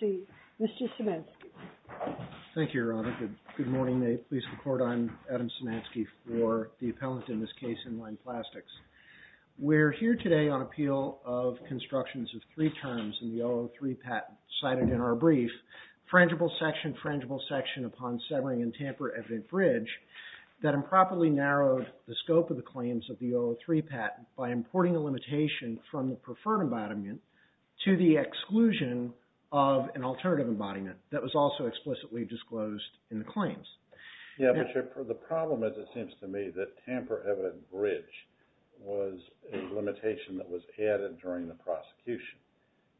, Mr. Szymanski. Thank you, Your Honor. Good morning. May it please the Court, I'm Adam Szymanski for the appellant in this case, Inline Plastics. We're here today on appeal of constructions of three terms in the O03 patent cited in our brief, frangible section, frangible section upon severing and tamper evident bridge, that improperly narrowed the term by importing a limitation from the preferred embodiment to the exclusion of an alternative embodiment that was also explicitly disclosed in the claims. Yeah, but the problem is, it seems to me, that tamper evident bridge was a limitation that was added during the prosecution.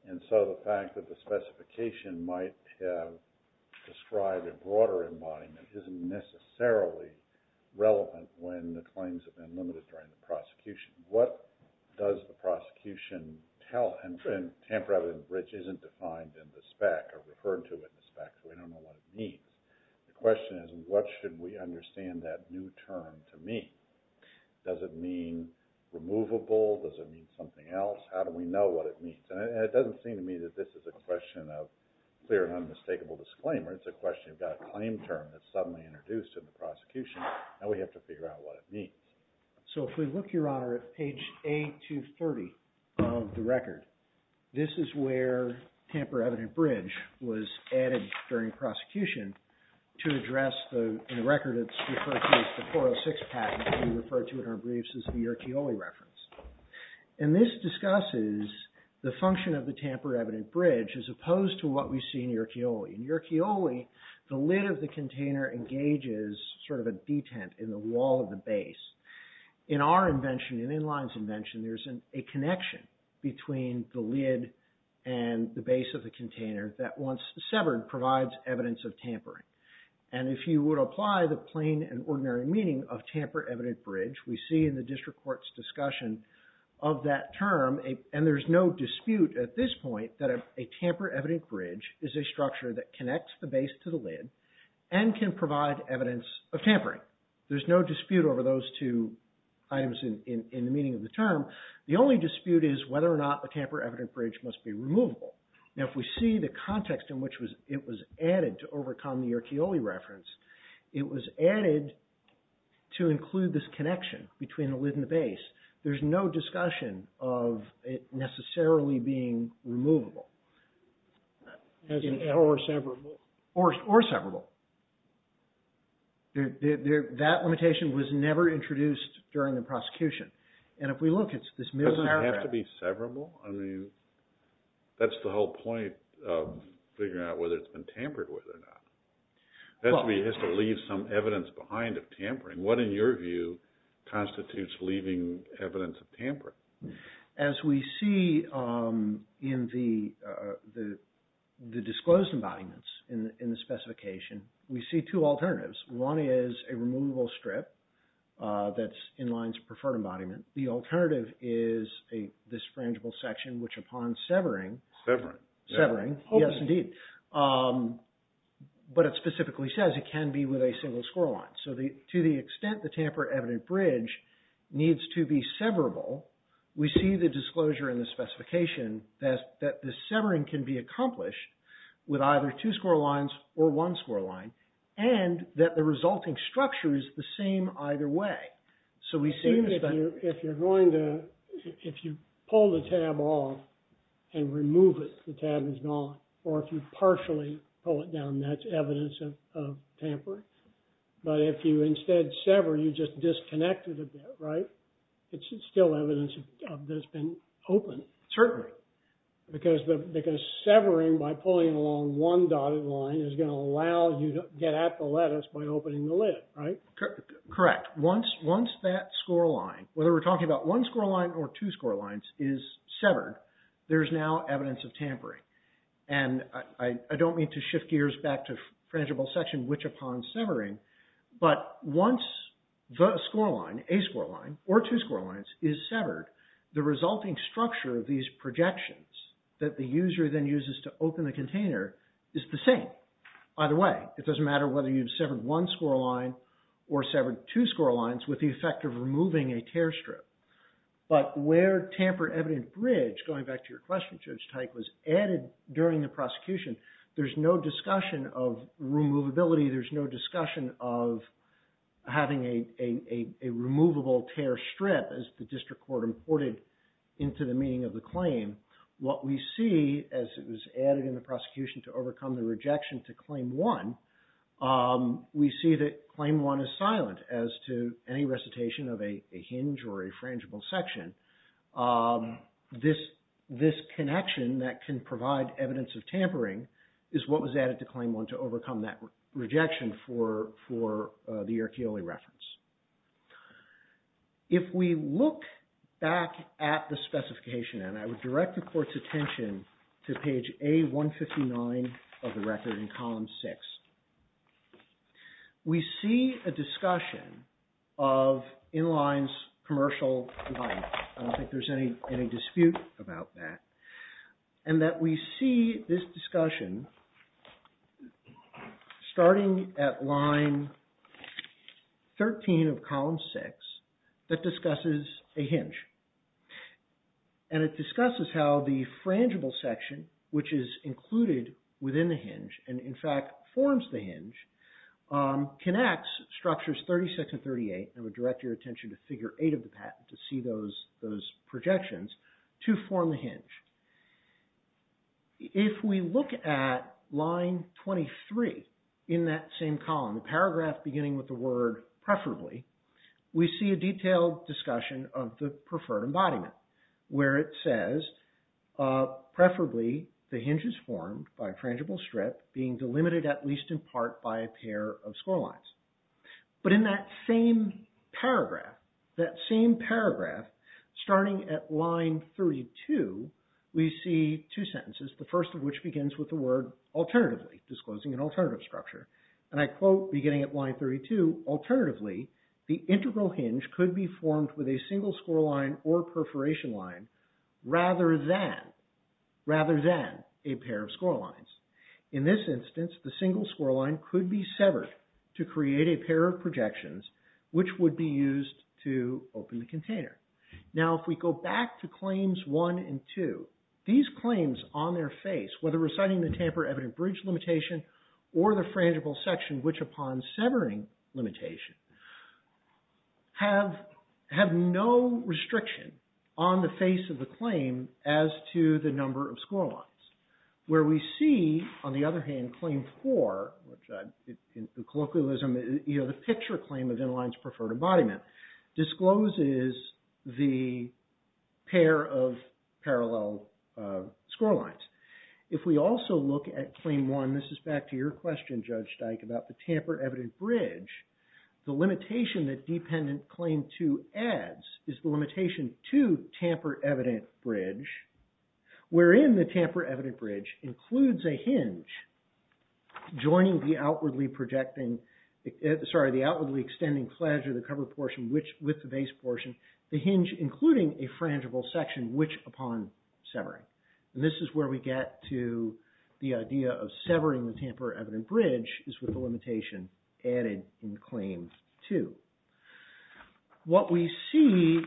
And so the fact that the specification might have described a broader embodiment isn't necessarily relevant when the claims have been limited during the prosecution. What does the prosecution tell? And tamper evident bridge isn't defined in the spec or referred to in the spec, so we don't know what it means. The question is, what should we understand that new term to mean? Does it mean removable? Does it mean something else? How do we know what it means? And it doesn't seem to me that this is a question of clear and unmistakable disclaimer. It's a question about a claim term that's suddenly introduced in the prosecution, and we have to figure out what it means. So if we look, Your Honor, at page A230 of the record, this is where tamper evident bridge was added during prosecution to address the record that's referred to as the 406 patent that we referred to in our briefs as the Yerkeoly reference. And this discusses the function of the tamper evident bridge as opposed to what we see in Yerkeoly. In Yerkeoly, the lid of the container engages sort of a detent in the wall of the base. In our invention, in Inline's invention, there's a connection between the lid and the base of the container that, once severed, provides evidence of tampering. And if you would apply the plain and ordinary meaning of tamper evident bridge, we see in the district court's discussion of that term, and there's no dispute at this point, that a tamper evident bridge is a structure that connects the base to the lid and can provide evidence of tampering. There's no dispute over those two items in the meaning of the term. The only dispute is whether or not the tamper evident bridge must be removable. Now, if we see the context in which it was added to overcome the Yerkeoly reference, it was added to include this connection between the lid and the base. There's no discussion of it necessarily being removable. Or severable. Or severable. That limitation was never introduced during the prosecution. And if we look, it's this middle paragraph. Doesn't it have to be severable? I mean, that's the whole point of figuring out whether it's been tampered with or not. That's where you have to leave some evidence behind of tampering. What, in your view, constitutes leaving evidence of tampering? As we see in the disclosed embodiments in the specification, we see two alternatives. One is a removable strip that's in Lyons Preferred Embodiment. The alternative is this frangible section, which upon severing... Severing. Severing. Yes, indeed. But it specifically says it can be with a single score line. So to the extent the tamper-evident bridge needs to be severable, we see the disclosure in the specification that the severing can be accomplished with either two score lines or one score line, and that the resulting structure is the same either way. So we see... If you're going to, if you pull the tab off and remove it, the tab is gone. Or if you instead sever, you just disconnect it a bit, right? It's still evidence that it's been open. Certainly. Because severing by pulling along one dotted line is going to allow you to get at the lettuce by opening the lid, right? Correct. Once that score line, whether we're talking about one score line or two score lines, is severed, there's now evidence of tampering. And I don't mean to shift gears back to frangible section, which upon severing, but once the score line, a score line, or two score lines is severed, the resulting structure of these projections that the user then uses to open the container is the same either way. It doesn't matter whether you've severed one score line or severed two score lines with the effect of removing a tear strip. But where tamper-evident bridge, going back to your question, Judge Teich, was added during the prosecution, there's no discussion of removability. There's no discussion of having a removable tear strip as the district court imported into the meaning of the claim. What we see as it was added in the prosecution to overcome the rejection to claim one, we see that claim one is silent as to any recitation of a hinge or a frangible section. This connection that can provide evidence of tampering is what was added to claim one to overcome that rejection for the Erchioli reference. If we look back at the specification, and I would direct the Court's attention to page A-159 of the record in column six, we see a discussion of in-lines, commercial, and that we see this discussion starting at line 13 of column six that discusses a hinge. And it discusses how the frangible section, which is included within the hinge, and in fact forms the hinge, connects structures 36 and 38, and I would direct your attention to figure eight of the patent to see those projections, to form the hinge. If we look at line 23 in that same column, the paragraph beginning with the word preferably, we see a detailed discussion of the preferred embodiment where it says, preferably the hinge is formed by a frangible strip being delimited at least in part by a pair of score lines. But in that same paragraph, that same paragraph starting at line 32, we see two sentences, the first of which begins with the word alternatively, disclosing an alternative structure. And I quote beginning at line 32, alternatively, the integral hinge could be formed with a single score line or perforation line rather than a pair of score lines. In this instance, the single score line could be severed to create a pair of projections which would be used to open the container. Now, if we go back to claims one and two, these claims on their face, whether reciting the tamper evident bridge limitation or the frangible section which upon severing limitation, have no restriction on the face of the claim as to the number of score lines. Where we see, on the other hand, claim four, the picture claim of in-lines preferred embodiment discloses the pair of parallel score lines. If we also look at claim one, this is back to your question, Judge Dyke, about the tamper evident bridge, the limitation that dependent claim two adds is the limitation to tamper evident bridge wherein the tamper evident bridge includes a hinge joining the outwardly projecting, sorry, the outwardly extending flange of the cover portion with the base portion, the hinge including a frangible section which upon severing. And this is where we get to the idea of severing the tamper evident bridge is with the limitation added in claim two. What we see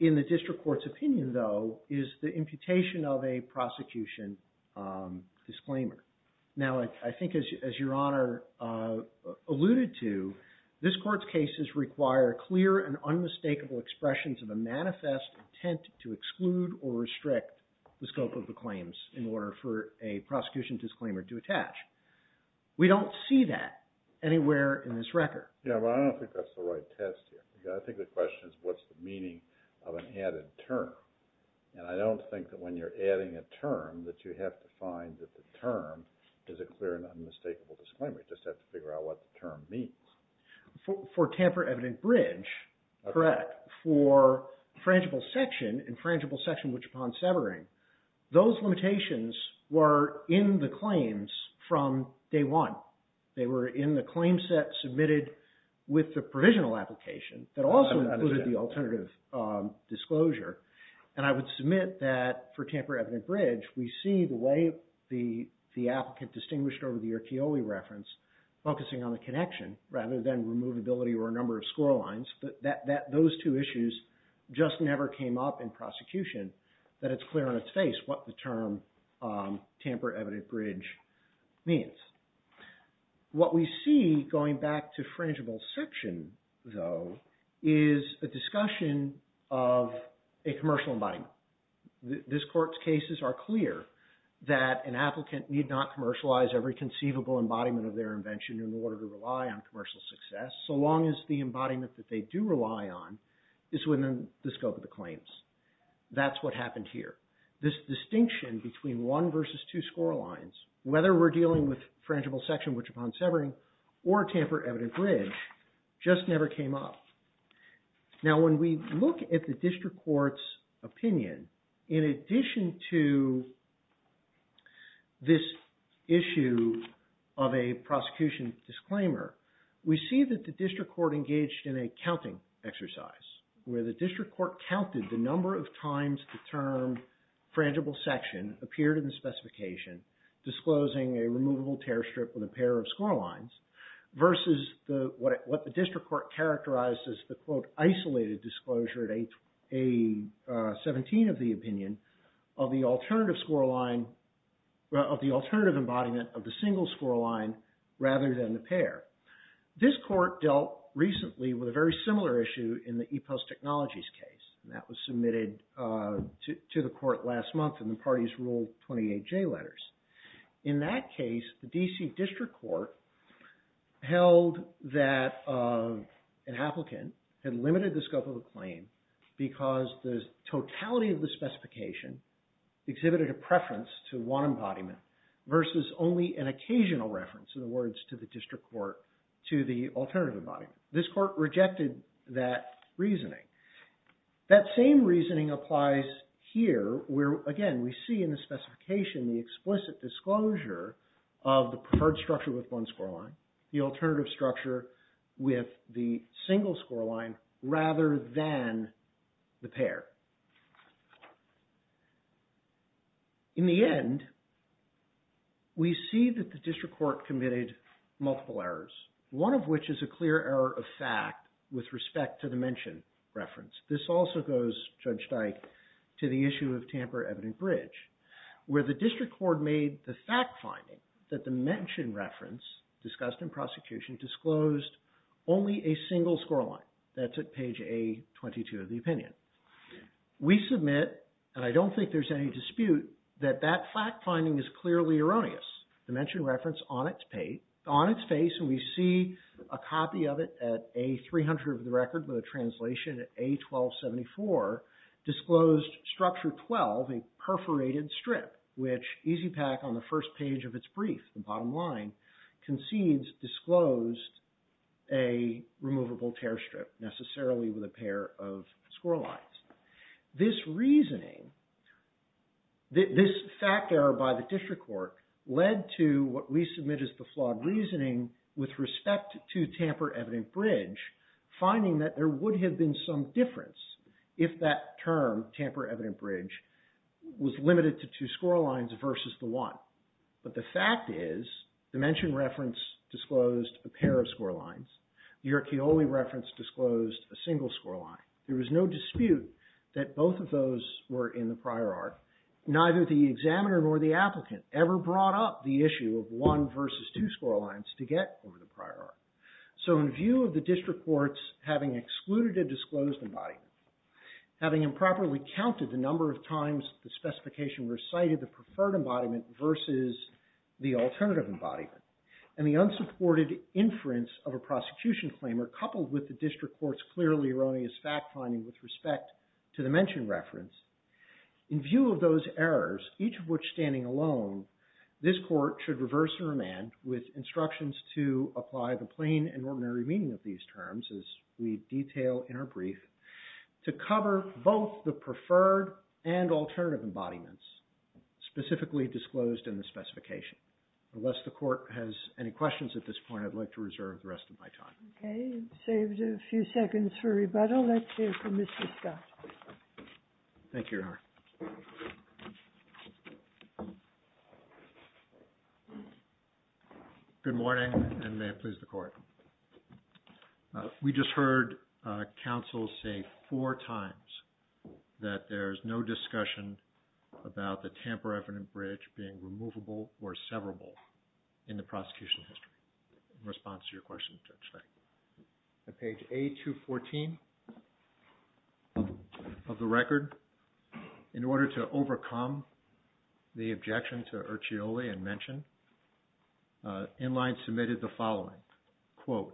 in the district court's opinion, though, is the imputation of a prosecution disclaimer. Now, I think as your honor alluded to, this court's cases require clear and unmistakable expressions of a manifest intent to exclude or restrict the scope of the claims in order for a prosecution disclaimer to attach. We don't see that anywhere in this record. Yeah, but I don't think that's the right test here. I think the question is what's the meaning of an added term? And I don't think that when you're adding a term that you have to find that the term is a clear and unmistakable disclaimer. You just have to figure out what the term means. For tamper evident bridge, correct. For frangible section and frangible section which upon severing, those limitations were in the claims from day one. They were in the claim set submitted with the provisional application that also included the alternative disclosure. And I would submit that for tamper evident bridge, we see the way the applicant distinguished over the Erchioli reference, focusing on the connection rather than removability or a number of score lines, that those two issues just never came up in prosecution, that it's clear on its face what the term tamper evident bridge means. What we see going back to frangible section though is a discussion of a commercial embodiment. This court's cases are clear that an applicant need not commercialize every conceivable embodiment of their invention in order to rely on commercial success, so long as the embodiment that they do rely on is within the scope of the claims. That's what happened here. This distinction between one versus two score lines, whether we're dealing with frangible section which upon severing or tamper evident bridge, just never came up. Now when we look at the district court's opinion, in addition to this issue of a prosecution disclaimer, we see that the district court engaged in a counting exercise where the district court counted the number of times the term frangible section appeared in the specification, disclosing a removable tear strip with a pair of score lines versus what the district court characterized as the quote isolated disclosure at A-17 of the opinion of the alternative embodiment of the single score line rather than the pair. This court dealt recently with a very similar issue in the E-Post Technologies case, and that was submitted to the court last month and the parties ruled 28-J letters. In that case, the DC district court held that an applicant had limited the scope of the claim because the totality of the specification exhibited a preference to one embodiment versus only an occasional reference in the words to the district court to the alternative embodiment. This court rejected that reasoning. That same reasoning applies here where again we see in the specification the explicit disclosure of the preferred structure with one score line, the alternative structure with the single score line rather than the pair. In the end, we see that the district court committed multiple errors, one of which is a clear error of fact with respect to the mention reference. This also goes, Judge Dyke, to the issue of Tamper Evident Bridge where the district court made the fact finding that the mention reference discussed in prosecution disclosed only a single score line. That's at page A-22 of the opinion. We submit, and I don't think there's any dispute, that that fact finding is clearly erroneous. The mention reference on its face and we see a copy of it at A-300 of the record with a translation at A-1274 disclosed structure 12, a perforated strip which E-PAC on the first page of its brief, the bottom line, concedes disclosed a removable tear strip necessarily with a pair of score lines. This reasoning, this fact error by the district court led to what we submit as the flawed reasoning with respect to Tamper Evident Bridge, finding that there would have been some difference if that term, Tamper Evident Bridge, was limited to two score lines versus the one. But the fact is the mention reference disclosed a pair of score lines. The Erchioli reference disclosed a single score line. There was no dispute that both of those were in the prior art. Neither the examiner nor the applicant ever brought up the issue of one versus two score lines to get over the prior art. So in view of the district courts having excluded a disclosed embodiment, having improperly counted the number of times the specification recited the preferred embodiment versus the alternative embodiment, and the unsupported inference of a prosecution claimer coupled with the district court's clearly erroneous fact finding with respect to the mention reference, in view of those errors, each of which standing alone, this court should reverse and remand with instructions to apply the plain and ordinary meaning of these terms as we detail in our brief, to cover both the preferred and alternative embodiments specifically disclosed in the specification. Unless the court has any questions at this point, I'd like to reserve the rest of my time. Okay. You've saved a few seconds for rebuttal. Let's hear from Mr. Scott. Thank you, Your Honor. Good morning, and may it please the court. We just heard counsel say four times that there's no discussion about the Tampa Revenant Bridge being removable or severable in the prosecution history. In response to your question, Judge, thank you. At page A214 of the record, in order to overcome the objection to Ercioli and mention, Inline Court submitted the following, quote,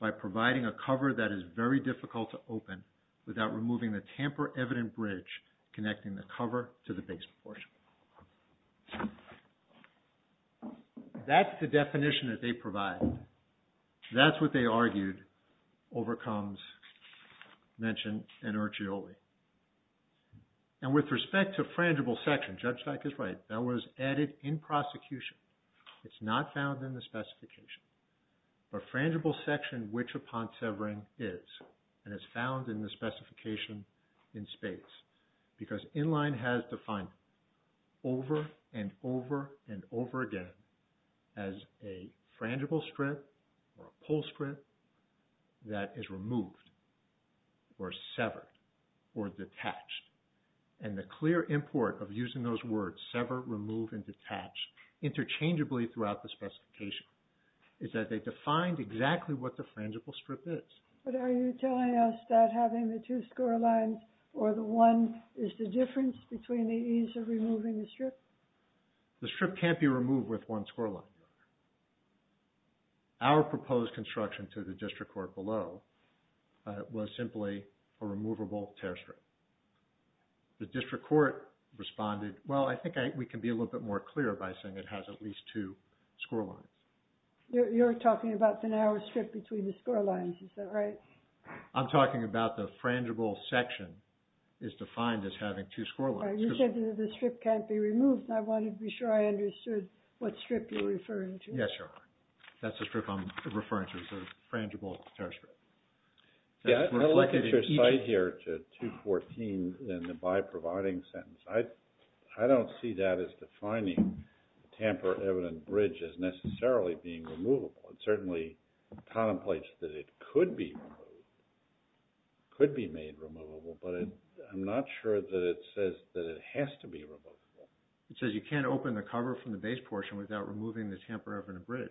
by providing a cover that is very difficult to open without removing the Tamper Evident Bridge connecting the cover to the base portion. That's the definition that they provide. That's what they argued overcomes mention and Ercioli. And with respect to frangible section, Judge Dyck is right. That was added in prosecution. It's not found in the specification. But frangible section, which upon severing is, and is found in the specification in space. Because Inline has defined over and over and over again as a frangible strip or a pull strip that is removed or severed or detached. And the clear import of using those words, sever, remove, and detach, interchangeably throughout the specification is that they defined exactly what the frangible strip is. But are you telling us that having the two score lines or the one is the difference between the ease of removing the strip? The strip can't be removed with one score line. Our proposed construction to the District Court was a frangible tear strip. The District Court responded, well, I think we can be a little bit more clear by saying it has at least two score lines. You're talking about the narrow strip between the score lines, is that right? I'm talking about the frangible section is defined as having two score lines. You said that the strip can't be removed and I wanted to be sure I understood what strip you're referring to. Yes, Your Honor. That's the strip I'm referring to. It's a frangible tear strip. I'm going to look at your site here to 214 and the by providing sentence. I don't see that as defining tamper evident bridge as necessarily being removable. It certainly contemplates that it could be removed, could be made removable, but I'm not sure that it says that it has to be removable. It says you can't open the cover from the base portion without removing the tamper evident bridge.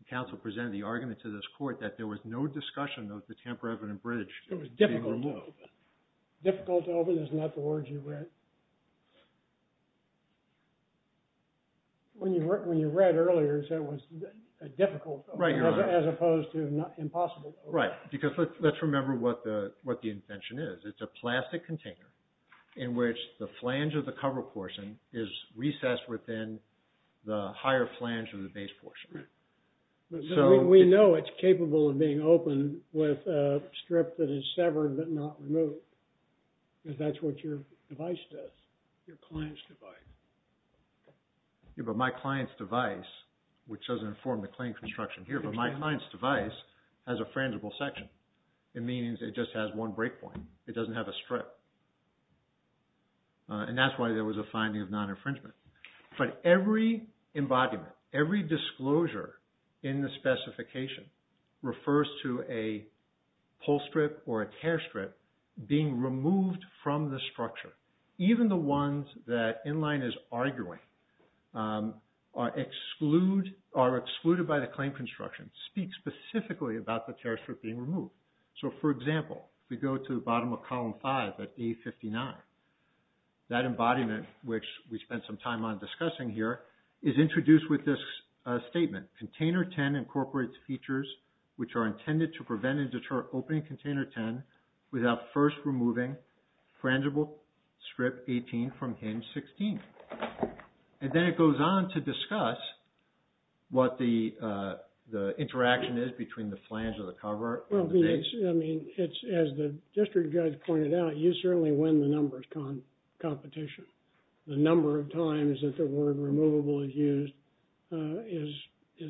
The counsel presented the argument to this court that there was no discussion of the tamper evident bridge being removed. It was difficult to open. Difficult to open is not the word you read. When you read earlier it said it was difficult to open as opposed to impossible to open. Right, because let's remember what the invention is. It's a plastic container in which the flange of the cover portion is recessed within the higher flange of the base portion. Right, so we know it's capable of being open with a strip that is severed but not removed because that's what your device does, your client's device. Yeah, but my client's device, which doesn't inform the claim construction here, but my client's device has a non-breakpoint. It doesn't have a strip. And that's why there was a finding of non-infringement. But every embodiment, every disclosure in the specification refers to a pull strip or a tear strip being removed from the structure. Even the ones that Inline is arguing are excluded by the claim construction, speak specifically about the tear strip being removed. So, for example, if we go to the bottom of column 5 at A59, that embodiment, which we spent some time on discussing here, is introduced with this statement. Container 10 incorporates features which are intended to prevent and deter opening container 10 without first removing frangible strip 18 from hinge 16. And then it goes on to discuss what the interaction is between the flange of the cover and the base. Well, I mean, as the district judge pointed out, you certainly win the numbers competition. The number of times that the word removable is used is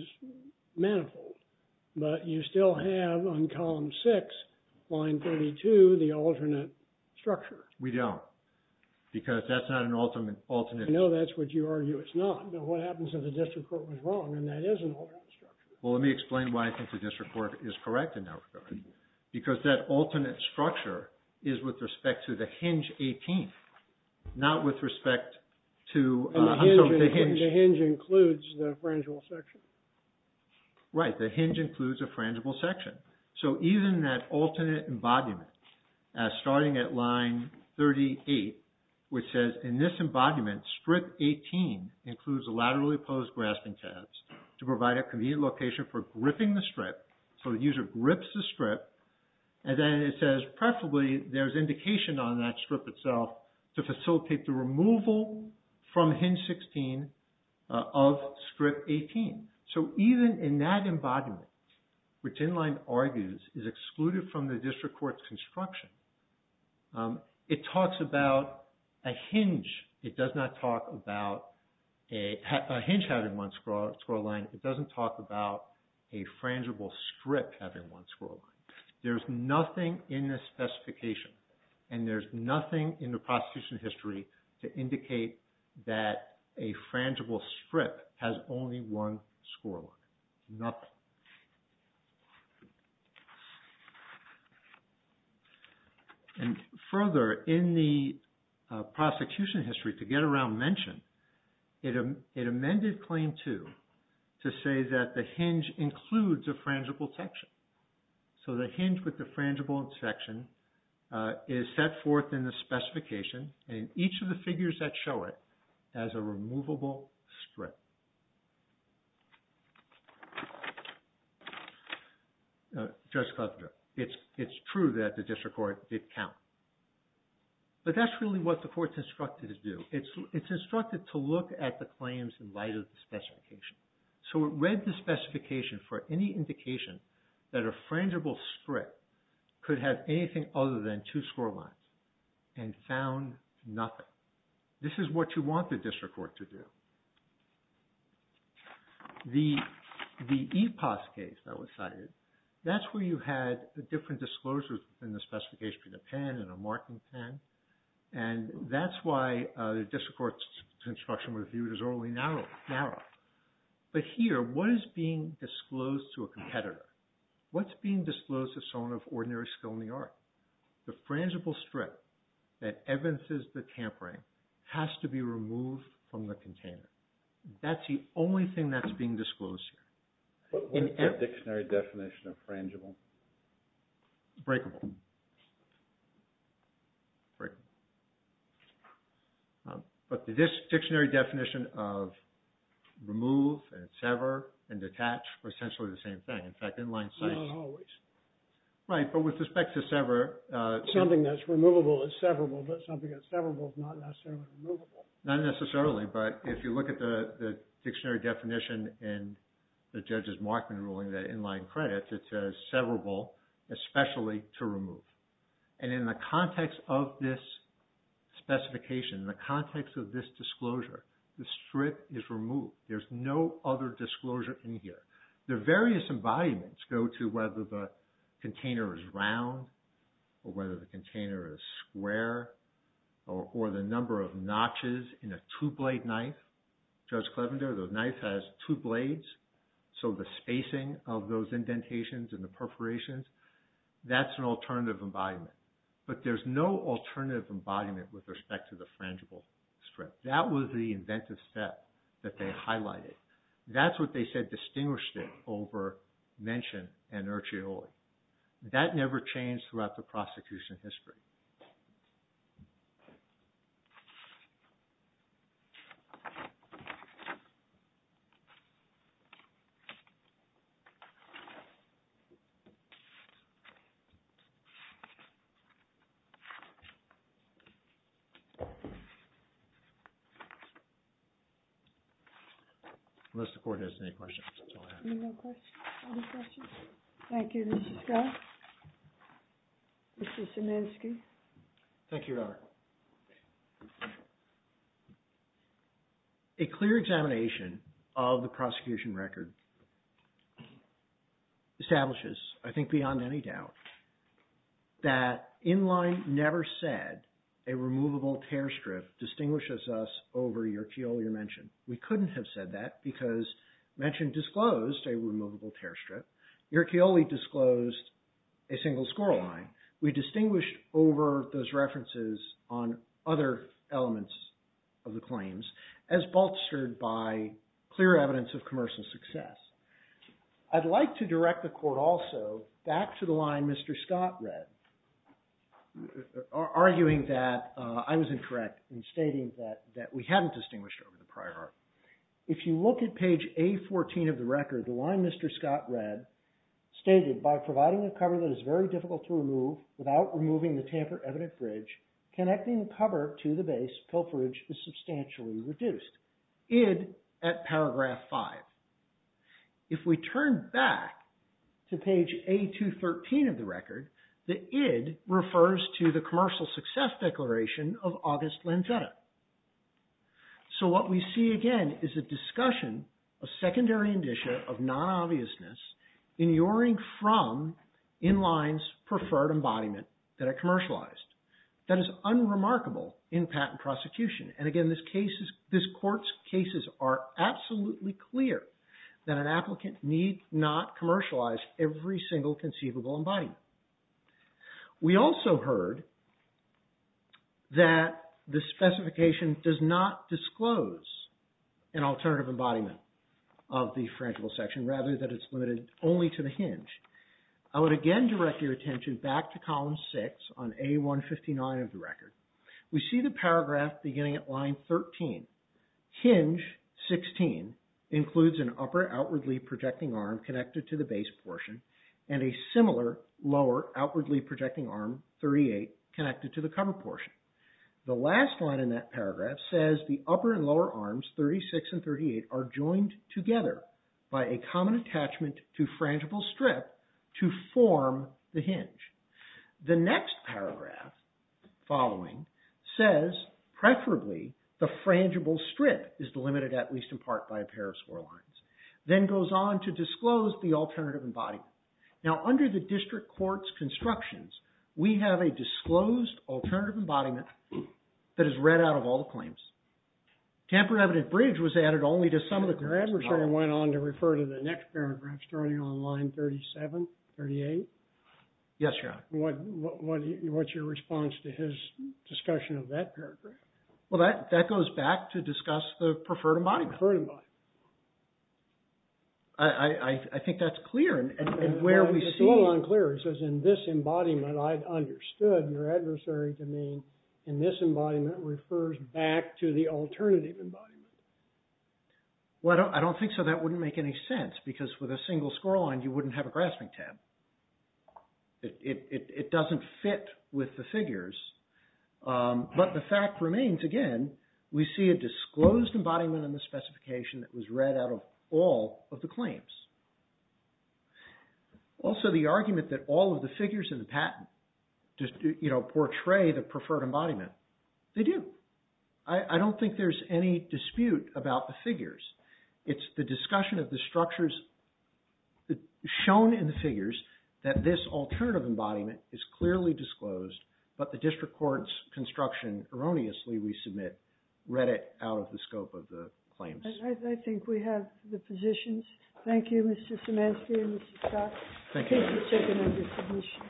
manifold. But you still have on column 6, line 32, the alternate structure. We don't. Because that's not an alternate. I know that's what you argue it's not. But what happens if the district court was wrong and that is an alternate structure? Well, let me explain why I think the district court is correct in that regard. Because that alternate structure is with respect to the hinge 18, not with respect to... The hinge includes the frangible section. Right. The hinge includes a frangible section. So even that alternate embodiment, starting at line 38, which says, in this embodiment, strip 18 includes a laterally opposed grasping tabs to provide a convenient location for gripping the strip. So the user grips the strip. And then it says, preferably, there's indication on that strip itself to facilitate the removal from hinge 16 of strip 18. So even in that embodiment, which Inline argues is excluded from the district court's construction, it talks about a hinge. It does not talk about a hinge having one scroll line. It doesn't talk about a frangible strip having one scroll line. There's nothing in this specification and there's nothing in the prosecution history to indicate that a frangible strip has only one scroll line. Nothing. And further, in the prosecution history, to get around mention, it amended Claim 2 to say that the hinge includes a frangible section. So the hinge with the frangible section is set forth in the specification and each of the figures that show it as a removable strip. Judge Cuthbert, it's true that the district court did count. But that's really what the court's instructed to do. It's instructed to look at the claims in light of the specification. So it read the specification for any indication that a frangible strip could have anything other than two scroll lines and found nothing. This is what you want the district court to do. The EPAS case that was cited, that's where you had different disclosures in the specification, a pen and a marking pen. And that's why the district court's instruction was viewed as overly narrow. But here, what is being disclosed to a competitor? What's being disclosed to someone of ordinary skill in the art? The frangible strip that evidences the tampering has to be removed from the container. That's the only thing that's being disclosed here. What's the dictionary definition of frangible? Breakable. But the dictionary definition of remove and sever and detach are essentially the same thing. In fact, inline sites... Not always. Right, but with respect to sever... Something that's removable is severable, but something that's severable is not necessarily removable. Not necessarily, but if you look at the dictionary definition in the judge's Markman ruling, that inline credits, it says severable, especially to remove. And in the context of this specification, in the context of this disclosure, the strip is removed. There's no other disclosure in here. The various embodiments go to whether the container is round or whether the container is square or the number of notches in a two-blade knife. Judge Clevender, the knife has two blades, so the spacing of those indentations and the perforations, that's an alternative embodiment. But there's no alternative embodiment with respect to the frangible strip. That was the inventive step that they highlighted. That's what they said distinguished it over mention and urchioli. That never changed throughout the prosecution history. Thank you. Unless the court has any questions, I'll have to... Any questions? Thank you, Mr. Scott. Mr. Szymanski. Thank you, Your Honor. A clear examination of the prosecution record establishes, I think beyond any doubt, that inline never said a removable tear strip distinguishes us over urchioli or mention. We couldn't have said that because mention disclosed a removable tear strip. Urchioli disclosed a single score line. We distinguished over those references on other elements of the claims as bolstered by clear evidence of commercial success. I'd like to direct the court also back to the line Mr. Scott read, arguing that I was incorrect in stating that we hadn't distinguished over the prior art. If you look at page A14 of the record, the line Mr. Scott read stated, by providing a cover that is very difficult to remove without removing the tamper evident bridge, connecting the cover to the base, pilferage is substantially reduced. Id at paragraph 5. If we turn back to page A213 of the record, the id refers to the commercial success declaration of August Lanzetta. So what we see again is a discussion, a secondary indicia of non-obviousness in yoring from inline's preferred embodiment that are commercialized. That is unremarkable in patent prosecution. And again, this court's cases are absolutely clear that an applicant need not commercialize every single conceivable embodiment. We also heard that the specification does not disclose an alternative embodiment of the fragile section, rather that it's limited only to the hinge. I would again direct your attention back to column 6 on A159 of the record. We see the paragraph beginning at line 13, hinge 16 includes an upper outwardly projecting arm connected to the base portion and a similar lower outwardly projecting arm 38 connected to the cover portion. The last line in that paragraph says the upper and lower arms 36 and 38 are joined together by a common attachment to frangible strip to form the hinge. The next paragraph following says preferably the frangible strip is delimited at least in part by a pair of score lines. Then goes on to disclose the alternative embodiment. Now under the district court's constructions, we have a disclosed alternative embodiment that is read out of all the claims. Tampere Evident Bridge was added only to some of the claims. Your adversary went on to refer to the next paragraph starting on line 37, 38. Yes, Your Honor. What's your response to his discussion of that paragraph? Well, that goes back to discuss the preferred embodiment. Preferred embodiment. I think that's clear and where we see... It's a little unclear. It says in this embodiment, I've understood your adversary to mean in this embodiment refers back to the alternative embodiment. Well, I don't think so. That wouldn't make any sense because with a single score line, you wouldn't have a grasping tab. It doesn't fit with the figures. But the fact remains, again, we see a disclosed embodiment in the specification that was read out of all of the claims. Also, the argument that all of the figures in the patent portray the preferred embodiment, they do. I don't think there's any dispute about the figures. It's the discussion of the structures shown in the figures that this alternative embodiment is clearly disclosed, but the district court's construction erroneously we submit read it out of the scope of the claims. I think we have the positions. Thank you, Mr. Szymanski and Mr. Scott. Thank you.